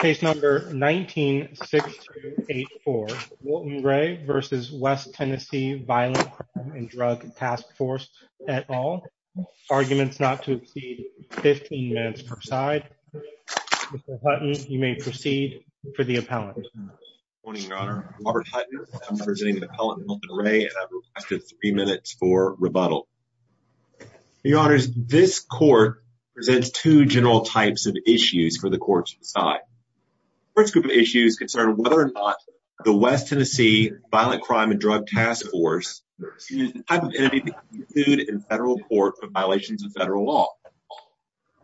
Case number 19-6284, Wilton Rhea v. W Tenn Crime and Drug Task Force, et al. Arguments not to exceed 15 minutes per side. Mr. Hutton, you may proceed for the appellant. Good morning, Your Honor. I'm Robert Hutton. I'm presenting the appellant, Wilton Rhea, and I've requested three minutes for rebuttal. Your Honors, this court presents two general types of issues for the courts of the side. The first group of issues concern whether or not the West Tennessee Violent Crime and Drug Task Force is the type of entity to be included in federal court for violations of federal law.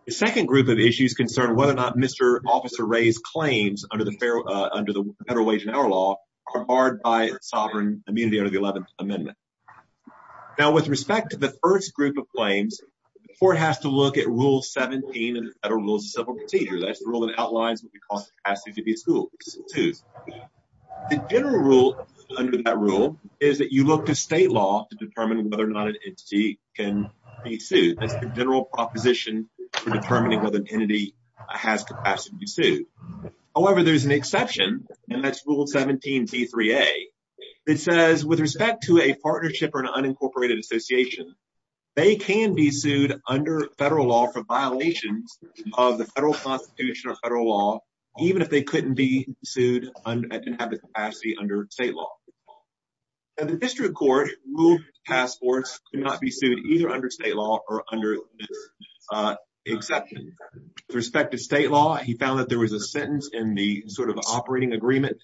The second group of issues concern whether or not Mr. Officer Rhea's claims under the Federal Wage and Hour Law are barred by sovereign immunity under the 11th Amendment. Now, with respect to the first group of claims, the court has to look at Rule 17 of the Federal Rules of Civil Procedure. That's the rule that outlines what we call capacity to be sued. The general rule under that rule is that you look to state law to determine whether or not an entity can be sued. That's the general proposition for determining whether an entity has capacity to be sued. However, there's an exception, and that's Rule 17b3a. It says, with respect to a partnership or an unincorporated association, they can be sued under federal law for violations of the federal constitution or federal law, even if they couldn't be sued and didn't have the capacity under state law. Now, the district court ruled the task force could not be sued either under state law or under this exception. With respect to state law, he found that there was a sentence in the sort of operating agreement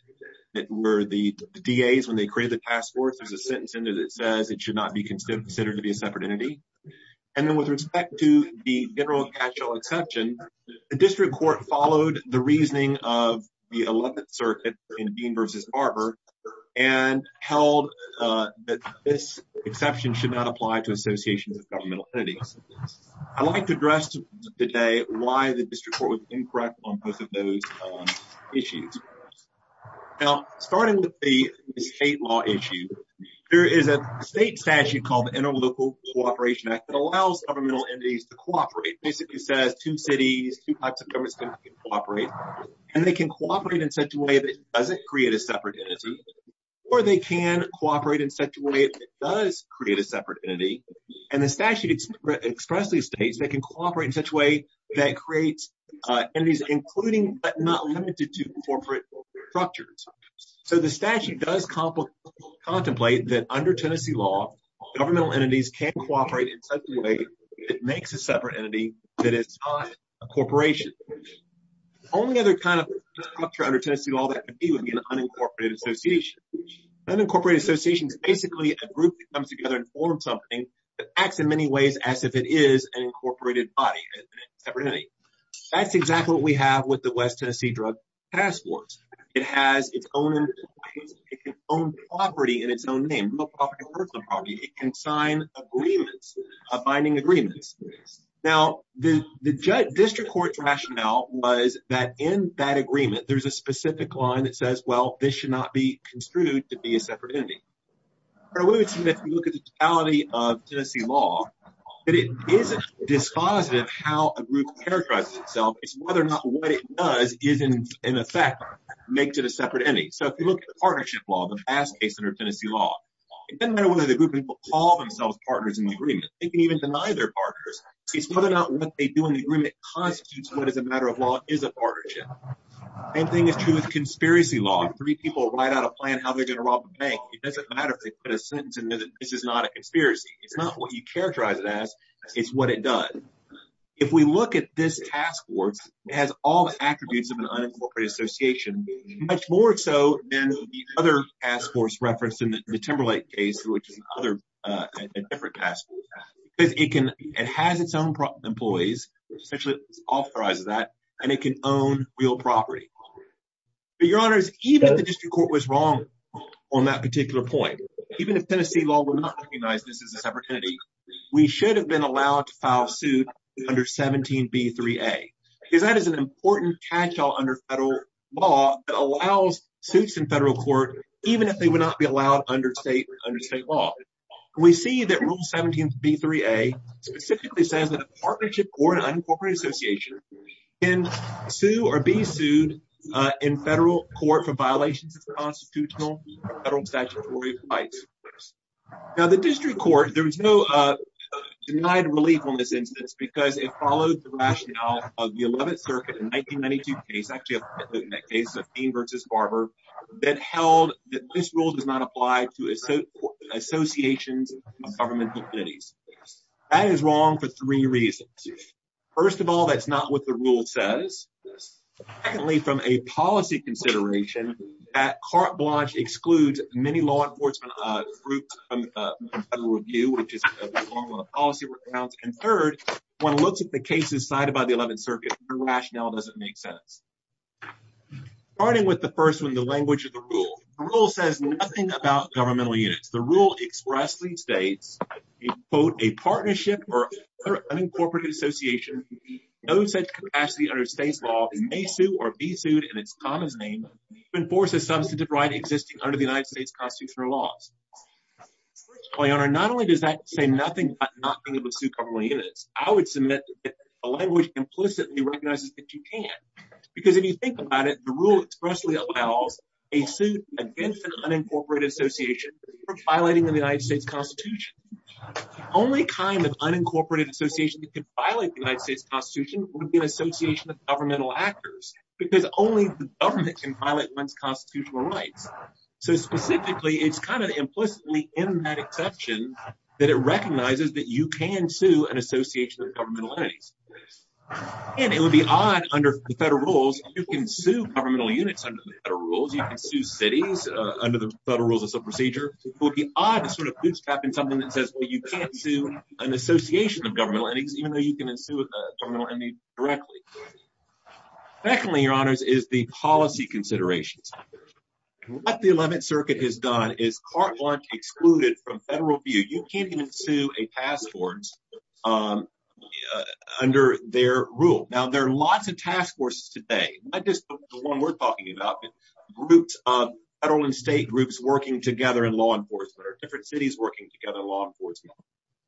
that were the DAs when they created the task force. There's a sentence in there that says it should not be considered to be a separate entity. And then with respect to the general catch-all exception, the district court followed the reasoning of the 11th Circuit in Bean v. Barber and held that this exception should not apply to associations of governmental entities. I'd like to address today why the district court was incorrect on both of those issues. Now, starting with the state law issue, there is a state statute called the Interlocal Cooperation Act that allows governmental entities to cooperate. It basically says two cities, two types of governments can cooperate. And they can cooperate in such a way that it doesn't create a separate entity, or they can cooperate in such a way that it does create a separate entity. And the statute expressly states they can cooperate in such a way that creates entities including but not limited to corporate structures. So, the statute does contemplate that under Tennessee law, governmental entities can cooperate in such a way that it makes a separate entity that is not a corporation. The only other kind of structure under Tennessee law that could be would be an unincorporated association. An unincorporated association is basically a group that comes together and forms something that acts in many ways as if it is an incorporated body, a separate entity. That's exactly what we have with the West Tennessee Drug Task Force. It has its own property and its own name. It can sign agreements, binding agreements. Now, the district court's rationale was that in that agreement, there's a specific line that says, well, this should not be construed to be a separate entity. But we would see that if you look at the totality of Tennessee law, that it isn't dispositive how a group characterizes itself. It's whether or not what it does is, in effect, makes it a separate entity. So, if you look at the partnership law, the vast case under Tennessee law, it doesn't matter whether the group people call themselves partners in the agreement. They can even deny they're partners. It's whether or not what they do in the agreement constitutes what is a matter of law is a partnership. Same thing is true with conspiracy law. Three people write out a plan how they're going to rob a bank. It doesn't matter if they put a sentence in there that this is not a conspiracy. It's not what you characterize it as. It's what it does. If we look at this task force, it has all the attributes of an unincorporated association, much more so than the other task force referenced in the Timberlake case, which is a different task force. It has its own employees, essentially authorizes that, and it can own real property. But, Your Honors, even if the district court was wrong on that particular point, even if Tennessee law would not recognize this as a separate entity, we should have been allowed to file suit under 17B3A. Because that is an important catch-all under federal law that allows suits in federal court, even if they would not be allowed under state law. We see that Rule 17B3A specifically says that a partnership or an unincorporated association can sue or be sued in federal court for violations of the constitutional and federal statutory rights. Now, the district court, there was no denied relief on this instance because it followed the rationale of the 11th Circuit in 1992 case, actually in that case of Payne v. Barber, that held that this rule does not apply to associations of governmental entities. That is wrong for three reasons. First of all, that's not what the rule says. Secondly, from a policy consideration, that carte blanche excludes many law enforcement groups from federal review, which is a form of policy recount. And third, when it looks at the cases cited by the 11th Circuit, the rationale doesn't make sense. Starting with the first one, the language of the rule. The rule says nothing about governmental units. The rule expressly states, quote, a partnership or unincorporated association with no such capacity under state law may sue or be sued in its common name to enforce a substantive right existing under the United States constitutional laws. Your Honor, not only does that say nothing about not being able to sue governmental units, I would submit that the language implicitly recognizes that you can. Because if you think about it, the rule expressly allows a suit against an unincorporated association for violating the United States Constitution. The only kind of unincorporated association that could violate the United States Constitution would be an association of governmental actors, because only the government can violate one's constitutional rights. So specifically, it's kind of implicitly in that exception that it recognizes that you can sue an association of governmental entities. And it would be odd under the federal rules if you can sue governmental units under the federal rules. You can sue cities under the federal rules as a procedure. It would be odd to sort of bootstrap in something that says, well, you can't sue an association of governmental entities, even though you can sue a governmental entity directly. Secondly, Your Honors, is the policy considerations. What the 11th Circuit has done is cart launch excluded from federal view. You can't even sue a task force under their rule. Now, there are lots of task forces today. Not just the one we're talking about, but groups of federal and state groups working together in law enforcement or different cities working together in law enforcement.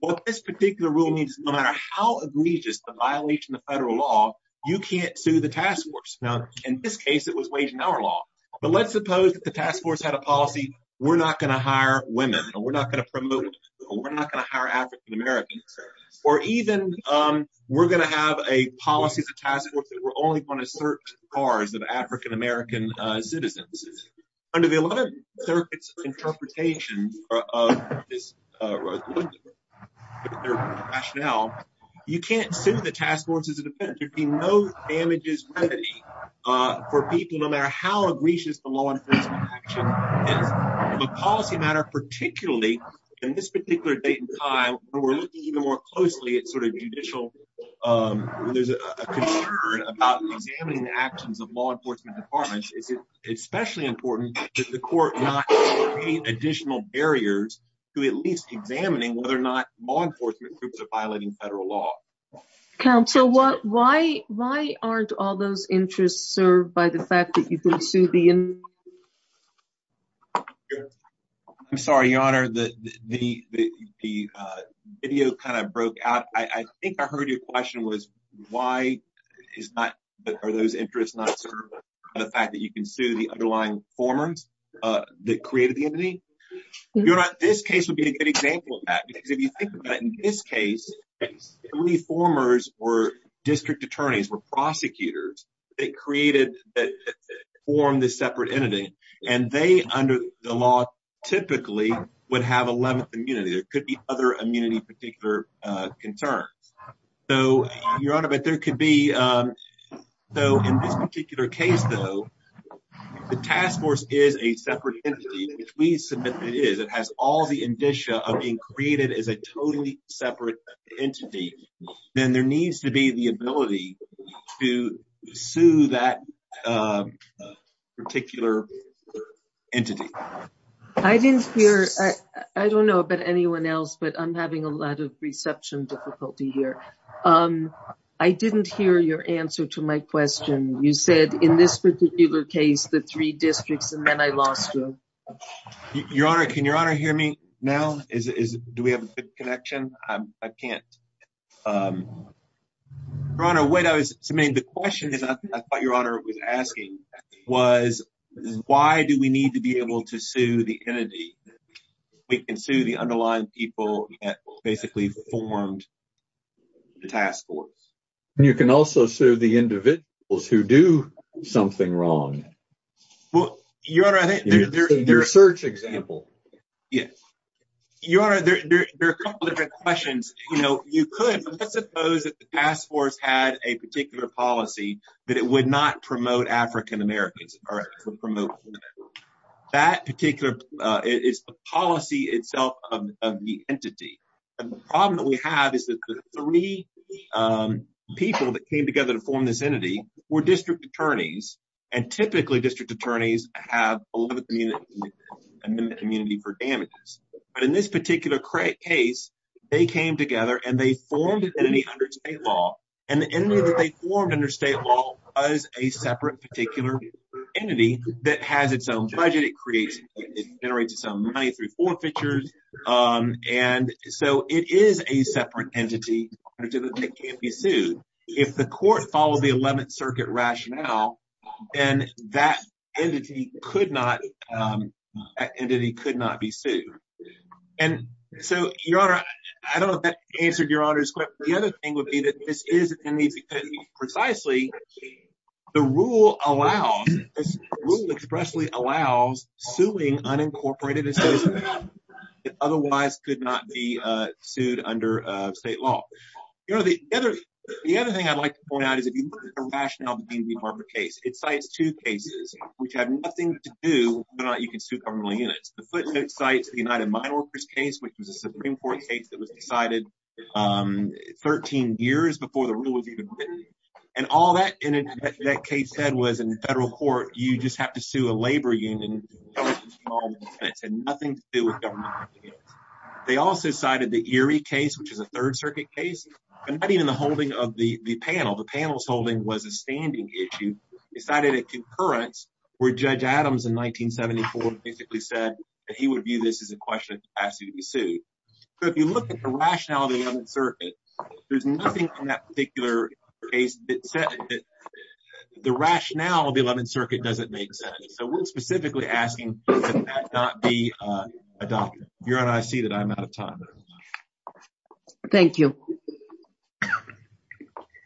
What this particular rule means, no matter how egregious the violation of federal law, you can't sue the task force. Now, in this case, it was wage and hour law. But let's suppose the task force had a policy. We're not going to hire women. We're not going to promote. We're not going to hire African-Americans. Or even we're going to have a policy as a task force that we're only going to search cars of African-American citizens. Under the 11th Circuit's interpretation of their rationale, you can't sue the task force as a defendant. There'd be no damages remedy for people, no matter how egregious the law enforcement action is. The policy matter, particularly in this particular date and time, we're looking even more closely at sort of judicial. There's a concern about examining the actions of law enforcement departments. It's especially important that the court not create additional barriers to at least examining whether or not law enforcement groups are violating federal law. Council, what? Why? Why aren't all those interests served by the fact that you can sue the. I'm sorry, your honor, that the video kind of broke out. I think I heard your question was, why is that? Are those interests not the fact that you can sue the underlying forms that created the entity? This case would be a good example of that, because if you think about in this case, reformers or district attorneys were prosecutors. They created that form, this separate entity, and they, under the law, typically would have 11th immunity. There could be other immunity, particular concerns. So, your honor, but there could be, though, in this particular case, though, the task force is a separate entity, which we submit it is, it has all the indicia of being created as a totally separate entity. Then there needs to be the ability to sue that particular entity. I didn't hear. I don't know about anyone else, but I'm having a lot of reception difficulty here. I didn't hear your answer to my question. You said in this particular case, the three districts, and then I lost you. Your honor, can your honor hear me now? Is do we have a connection? I can't. The question is, I thought your honor was asking was, why do we need to be able to sue the entity? We can sue the underlying people that basically formed the task force. You can also sue the individuals who do something wrong. Well, your search example. Yes, your questions, you know, you could suppose that the task force had a particular policy that it would not promote African Americans or promote. That particular is the policy itself of the entity. The problem that we have is that the 3 people that came together to form this entity were district attorneys and typically district attorneys have a lot of community and then the community for damages. But in this particular case, they came together and they formed an entity under state law and the entity that they formed under state law is a separate particular entity that has its own budget. It creates generates some money through forfeitures. And so it is a separate entity that can't be sued. If the court follows the 11th Circuit rationale, and that entity could not entity could not be sued. And so, your honor, I don't know if that answered your honors. The other thing would be that this is precisely the rule allows rule expressly allows suing unincorporated. Otherwise, could not be sued under state law. You know, the other the other thing I'd like to point out is a rationale. It's like, it's 2 cases, which have nothing to do, but you can sue government units. The footnote sites, the United Mineworkers case, which was a Supreme Court case that was decided 13 years before the rule was even written. And all that that case said was in the federal court. You just have to sue a labor union and nothing to do with government. They also cited the Erie case, which is a 3rd Circuit case, and not even the holding of the panel. The panel's holding was a standing issue. Decided a concurrence where Judge Adams in 1974 basically said that he would view this as a question of capacity to be sued. So, if you look at the rationale of the 11th Circuit, there's nothing in that particular case that said that the rationale of the 11th Circuit doesn't make sense. So, we're specifically asking that that not be adopted. Your Honor, I see that I'm out of time. Thank you.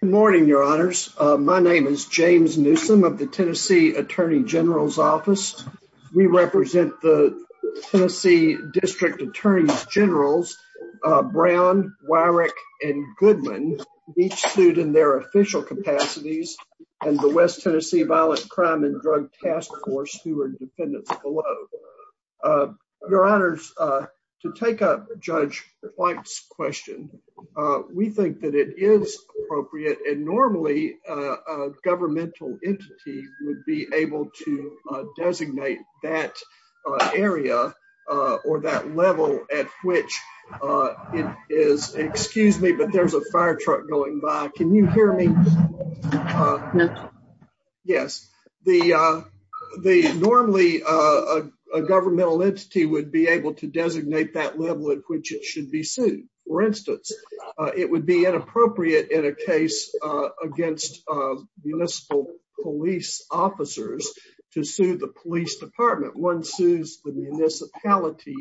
Good morning, Your Honors. My name is James Newsome of the Tennessee Attorney General's Office. We represent the Tennessee District Attorney's Generals, Brown, Wyrick, and Goodman, each sued in their official capacities, and the West Tennessee Violent Crime and Drug Task Force, who are dependents below. Your Honors, to take up Judge White's question, we think that it is appropriate. And normally, a governmental entity would be able to designate that area or that level at which it is. Excuse me, but there's a firetruck going by. Can you hear me? Yes. Normally, a governmental entity would be able to designate that level at which it should be sued. For instance, it would be inappropriate in a case against municipal police officers to sue the police department. One sues the municipality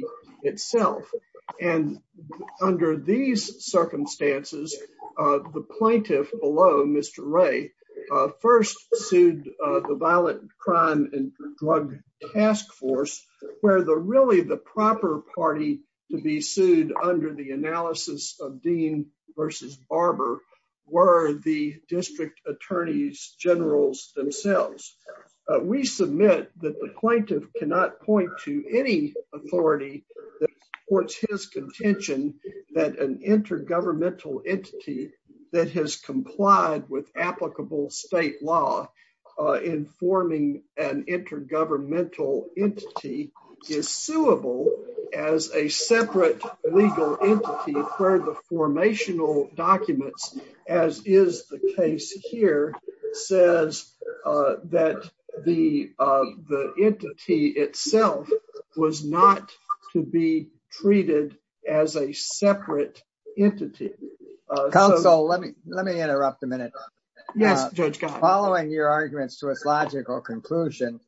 itself. And under these circumstances, the plaintiff below, Mr. Ray, first sued the Violent Crime and Drug Task Force, where really the proper party to be sued under the analysis of Dean versus Barber were the district attorney's generals themselves. We submit that the plaintiff cannot point to any authority that supports his contention that an intergovernmental entity that has complied with applicable state law in forming an intergovernmental entity is suable as a separate legal entity where the formational documents, as is the case here, says that the entity itself was not to be treated as a separate entity. Counsel, let me interrupt a minute. Yes, Judge. Following your arguments to its logical conclusion,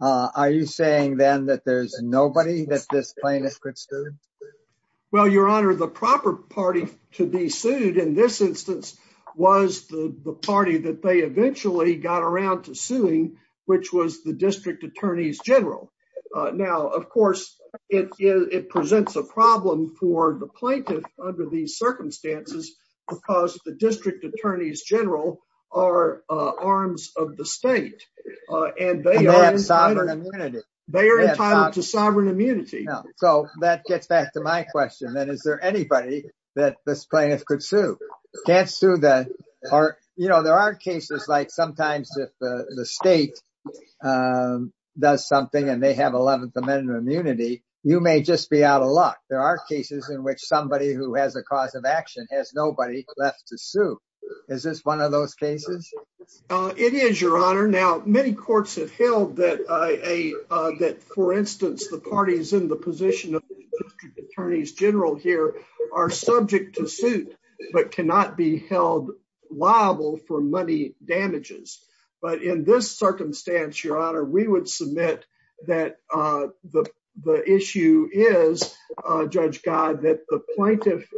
are you saying then that there's nobody that this plaintiff could sue? Well, Your Honor, the proper party to be sued in this instance was the party that they eventually got around to suing, which was the district attorney's general. Now, of course, it presents a problem for the plaintiff under these circumstances because the district attorney's general are arms of the state and they are entitled to sovereign immunity. So that gets back to my question, then, is there anybody that this plaintiff could sue? There are cases like sometimes if the state does something and they have 11th Amendment immunity, you may just be out of luck. There are cases in which somebody who has a cause of action has nobody left to sue. Is this one of those cases? It is, Your Honor. Now, many courts have held that, for instance, the parties in the position of the district attorney's general here are subject to suit but cannot be held liable for money damages. But in this circumstance, Your Honor, we would submit that the issue is, Judge God, that the plaintiff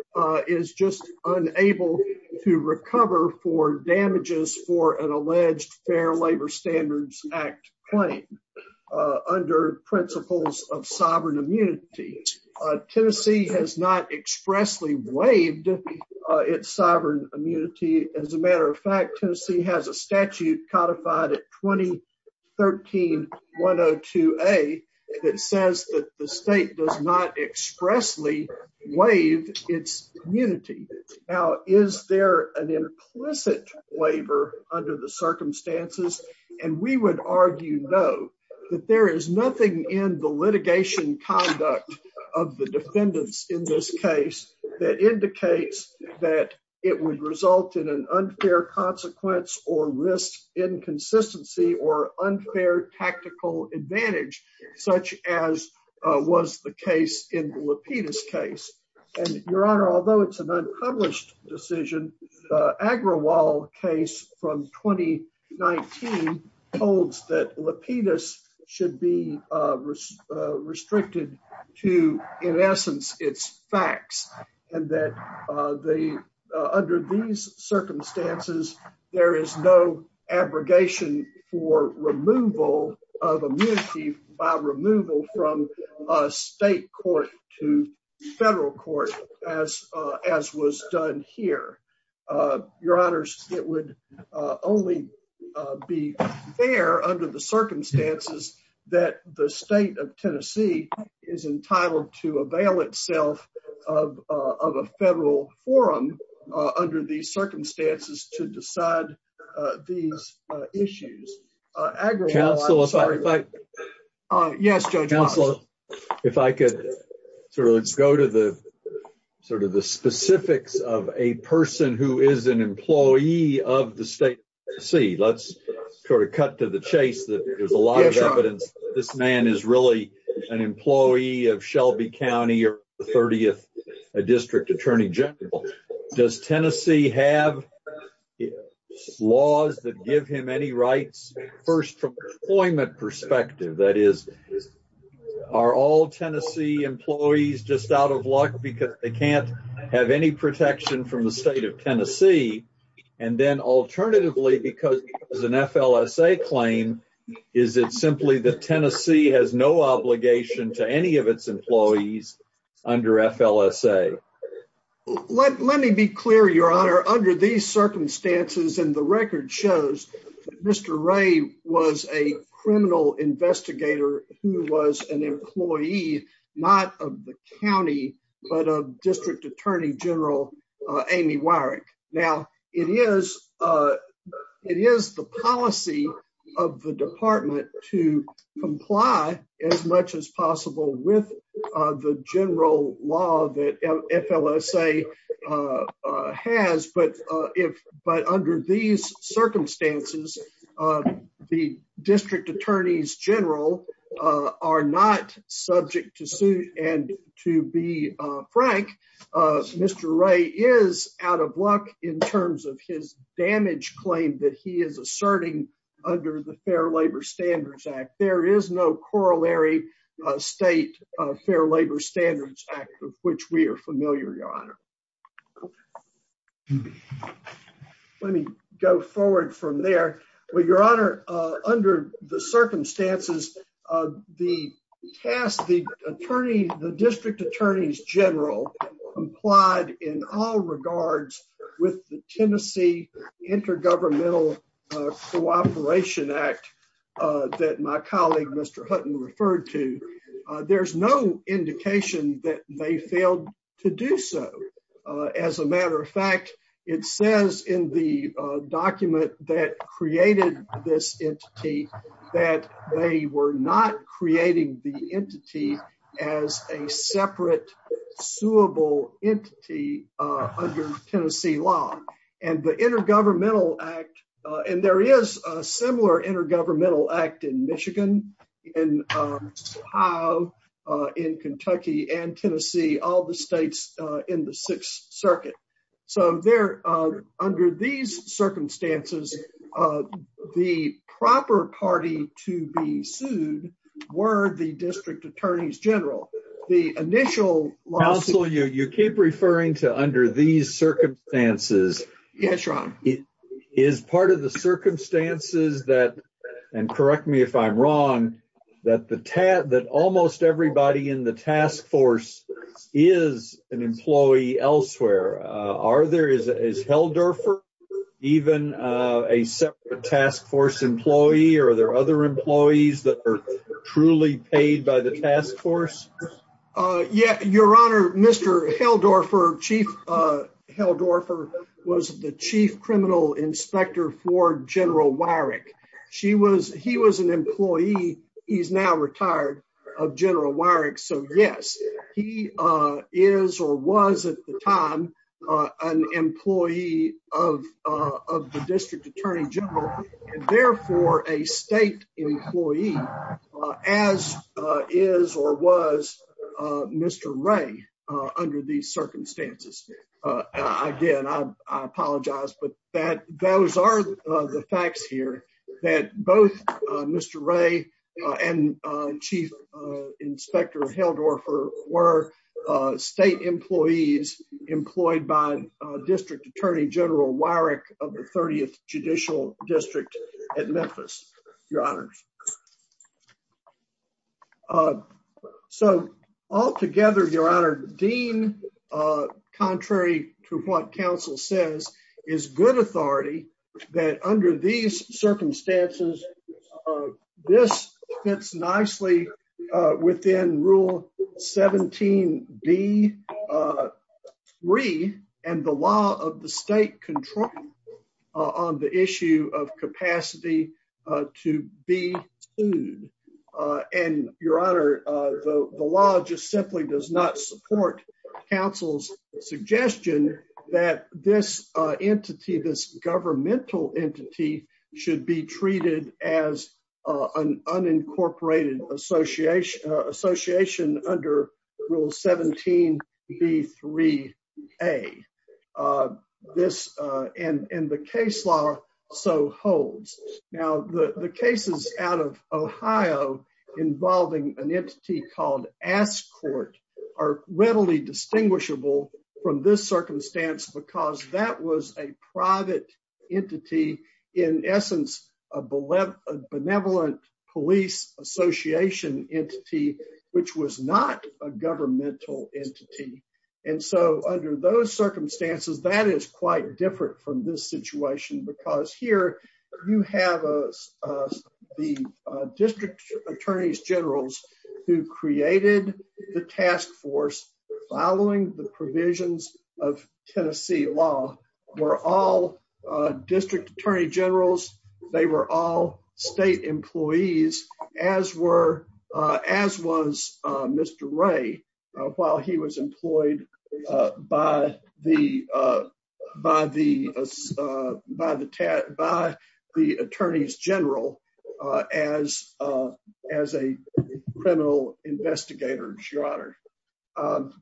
is just unable to recover for damages for an alleged Fair Labor Standards Act claim under principles of sovereign immunity. Tennessee has not expressly waived its sovereign immunity. As a matter of fact, Tennessee has a statute codified at 2013-102A that says that the state does not expressly waive its immunity. Now, is there an implicit labor under the circumstances? And we would argue, no, that there is nothing in the litigation conduct of the defendants in this case that indicates that it would result in an unfair consequence or risk inconsistency or unfair tactical advantage such as was the case in the Lapidus case. And, Your Honor, although it's an unpublished decision, the Agrawal case from 2019 holds that Lapidus should be restricted to, in essence, its facts. And that under these circumstances, there is no abrogation for removal of immunity by removal from state court to federal court as was done here. Your Honor, it would only be fair under the circumstances that the state of Tennessee is entitled to avail itself of a federal forum under these circumstances to decide these issues. Counsel, if I could sort of let's go to the sort of the specifics of a person who is an employee of the state to see let's sort of cut to the chase that there's a lot of evidence. This man is really an employee of Shelby County or the 30th District Attorney General. Does Tennessee have laws that give him any rights? First, from employment perspective, that is, are all Tennessee employees just out of luck because they can't have any protection from the state of Tennessee? And then alternatively, because it was an FLSA claim, is it simply that Tennessee has no obligation to any of its employees under FLSA? Let me be clear, Your Honor. Under these circumstances, and the record shows Mr. Ray was a criminal investigator who was an employee, not of the county, but of District Attorney General Amy Weirich. Now, it is the policy of the department to comply as much as possible with the general law that FLSA has. But under these circumstances, the District Attorneys General are not subject to suit. And to be frank, Mr. Ray is out of luck in terms of his damage claim that he is asserting under the Fair Labor Standards Act. There is no corollary state Fair Labor Standards Act of which we are familiar, Your Honor. Let me go forward from there. Well, Your Honor, under the circumstances of the task, the District Attorneys General complied in all regards with the Tennessee Intergovernmental Cooperation Act that my colleague Mr. Hutton referred to. There's no indication that they failed to do so. As a matter of fact, it says in the document that created this entity that they were not creating the entity as a separate suable entity under Tennessee law. And the Intergovernmental Act, and there is a similar Intergovernmental Act in Michigan, in Ohio, in Kentucky, and Tennessee, all the states in the Sixth Circuit. So there, under these circumstances, the proper party to be sued were the District Attorneys General. The initial lawsuit... Counselor, you keep referring to under these circumstances. Yes, Your Honor. Is part of the circumstances that, and correct me if I'm wrong, that almost everybody in the task force is an employee elsewhere? Is Heldorfer even a separate task force employee or are there other employees that are truly paid by the task force? Yes, Your Honor. Mr. Heldorfer, Chief Heldorfer, was the chief criminal inspector for General Weyrich. He was an employee. He's now retired of General Weyrich. So yes, he is or was at the time, an employee of the District Attorney General, and therefore a state employee, as is or was Mr. Ray under these circumstances. Again, I apologize, but those are the facts here that both Mr. Ray and Chief Inspector Heldorfer were state employees employed by District Attorney General Weyrich of the 30th Judicial District at Memphis, Your Honor. So, altogether, Your Honor, Dean, contrary to what counsel says, is good authority that under these circumstances, this fits nicely within Rule 17B3 and the law of the state control on the issue of capacity to be an employee. And, Your Honor, the law just simply does not support counsel's suggestion that this entity, this governmental entity, should be treated as an unincorporated association under Rule 17B3A. And the case law so holds. Now, the cases out of Ohio involving an entity called ASCORT are readily distinguishable from this circumstance because that was a private entity, in essence, a benevolent police association entity, which was not a governmental entity. And so, under those circumstances, that is quite different from this situation because here you have the District Attorney Generals who created the task force following the provisions of Tennessee law were all District Attorney Generals. They were all state employees, as was Mr. Ray, while he was employed by the Attorneys General as a criminal investigator, Your Honor.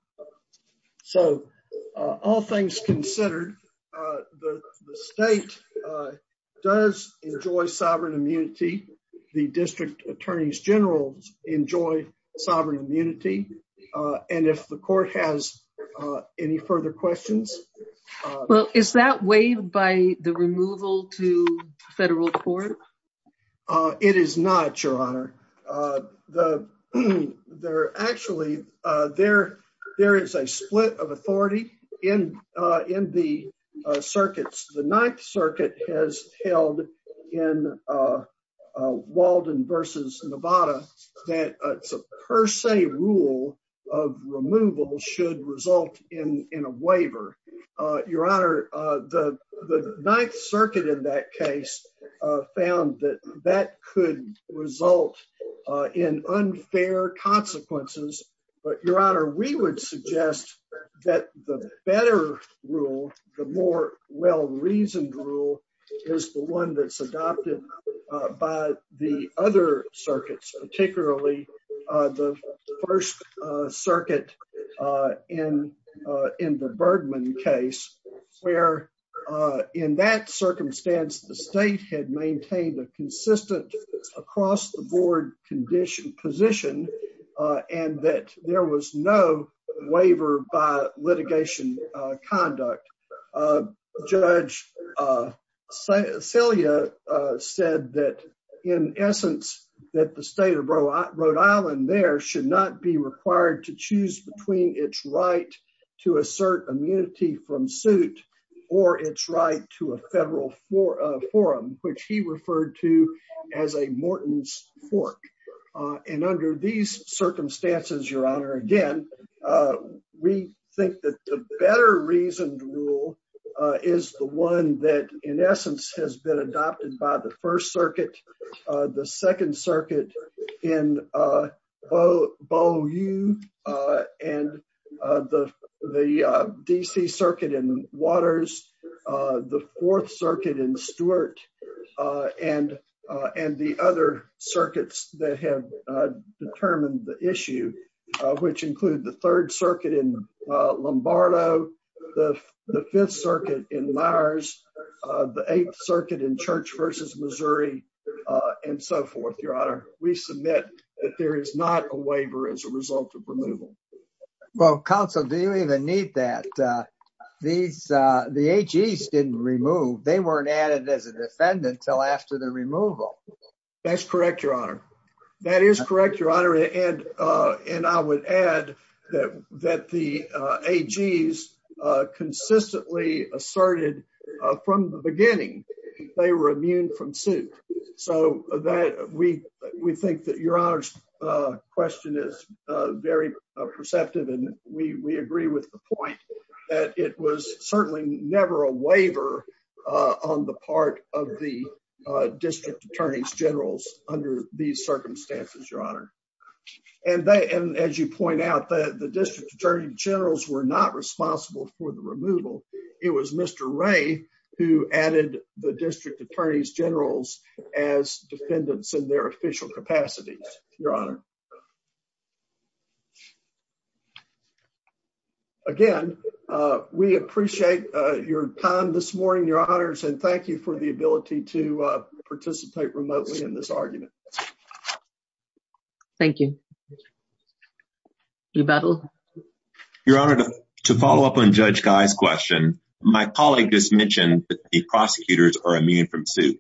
So, all things considered, the state does enjoy sovereign immunity. The District Attorneys Generals enjoy sovereign immunity. And if the court has any further questions. Well, is that weighed by the removal to federal court? It is not, Your Honor. There is a split of authority in the circuits. The Ninth Circuit has held in Walden v. Nevada that a per se rule of removal should result in a waiver. Your Honor, the Ninth Circuit in that case found that that could result in unfair consequences. But, Your Honor, we would suggest that the better rule, the more well-reasoned rule, is the one that's adopted by the other circuits, particularly the First Circuit in the Bergman case, where in that circumstance, the state had maintained a consistent across-the-board position. And that there was no waiver by litigation conduct. Judge Celia said that in essence, that the state of Rhode Island there should not be required to choose between its right to assert immunity from suit or its right to a federal forum, which he referred to as a Morton's Fork. And under these circumstances, Your Honor, again, we think that the better-reasoned rule is the one that in essence has been adopted by the First Circuit, the Second Circuit in Beaulieu, and the D.C. Circuit in Waters, the Fourth Circuit in Stewart, and the other circuits that have determined the issue, which include the Third Circuit in Lombardo, the Fifth Circuit in Myers, the Eighth Circuit in Church v. Missouri, and so forth, Your Honor. We submit that there is not a waiver as a result of removal. Well, Counsel, do you even need that? The AGs didn't remove. They weren't added as a defendant until after the removal. That's correct, Your Honor. That is correct, Your Honor. And I would add that the AGs consistently asserted from the beginning they were immune from suit. So we think that Your Honor's question is very perceptive, and we agree with the point that it was certainly never a waiver on the part of the District Attorneys General under these circumstances, Your Honor. And as you point out, the District Attorney Generals were not responsible for the removal. It was Mr. Ray who added the District Attorneys Generals as defendants in their official capacity, Your Honor. Again, we appreciate your time this morning, Your Honors, and thank you for the ability to participate remotely in this argument. Thank you. Rebuttal. Your Honor, to follow up on Judge Guy's question, my colleague just mentioned that the prosecutors are immune from suit.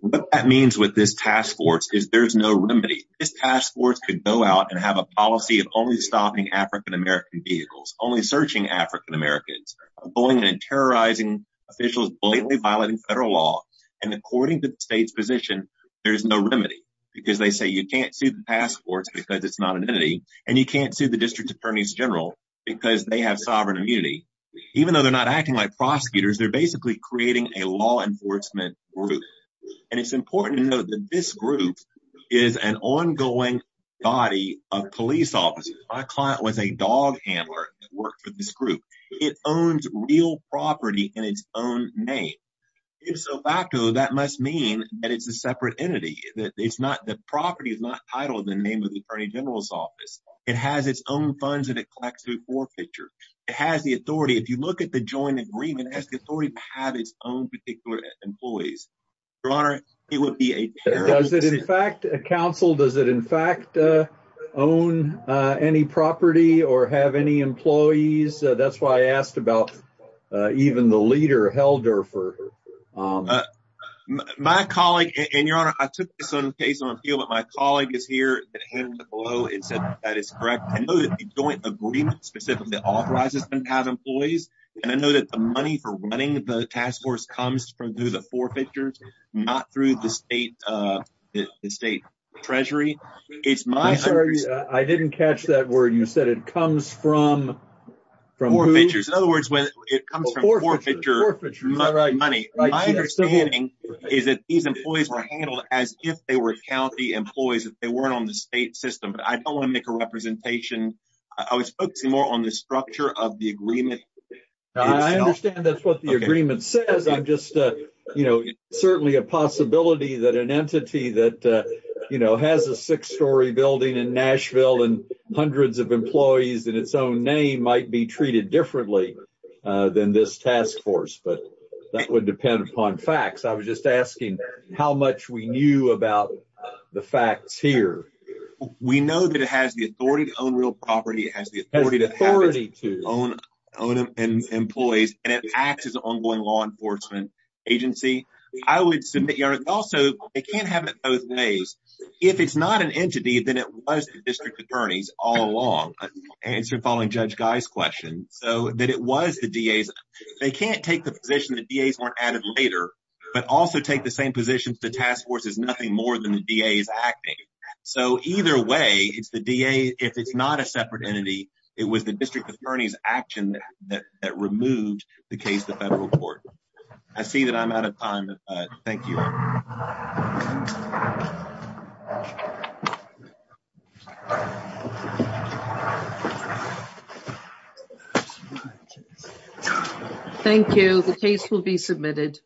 What that means with this task force is there's no remedy. This task force could go out and have a policy of only stopping African-American vehicles, only searching African-Americans, bullying and terrorizing officials, blatantly violating federal law, and according to the state's position, there's no remedy. Because they say you can't sue the task force because it's not an entity, and you can't sue the District Attorneys General because they have sovereign immunity. Even though they're not acting like prosecutors, they're basically creating a law enforcement group. And it's important to note that this group is an ongoing body of police officers. My client was a dog handler that worked for this group. It owns real property in its own name. If so facto, that must mean that it's a separate entity. The property is not titled in the name of the Attorney General's office. It has its own funds that it collects through forfeiture. It has the authority. If you look at the joint agreement, it has the authority to have its own particular employees. Your Honor, it would be a terrible decision. Counsel, does it in fact own any property or have any employees? That's why I asked about even the leader, Helldorfer. My colleague, and Your Honor, I took this on a case on appeal, but my colleague is here. He said that is correct. I know that the joint agreement specifically authorizes them to have employees. And I know that the money for running the task force comes through the forfeiture, not through the state treasury. I'm sorry, I didn't catch that word. You said it comes from who? Forfeiture. In other words, it comes from forfeiture money. My understanding is that these employees were handled as if they were county employees. They weren't on the state system. I don't want to make a representation. I was focusing more on the structure of the agreement. I understand that's what the agreement says. I'm just, you know, certainly a possibility that an entity that, you know, has a six-story building in Nashville and hundreds of employees in its own name might be treated differently than this task force. But that would depend upon facts. I was just asking how much we knew about the facts here. We know that it has the authority to own real property. It has the authority to own employees. And it acts as an ongoing law enforcement agency. I would submit, Your Honor, also, it can't have it both ways. If it's not an entity, then it was the district attorneys all along. Answering following Judge Guy's question. So, that it was the DAs. They can't take the position that DAs weren't added later, but also take the same position that the task force is nothing more than the DAs acting. So, either way, if it's not a separate entity, it was the district attorney's action that removed the case to federal court. I see that I'm out of time. Thank you. Thank you. The case will be submitted.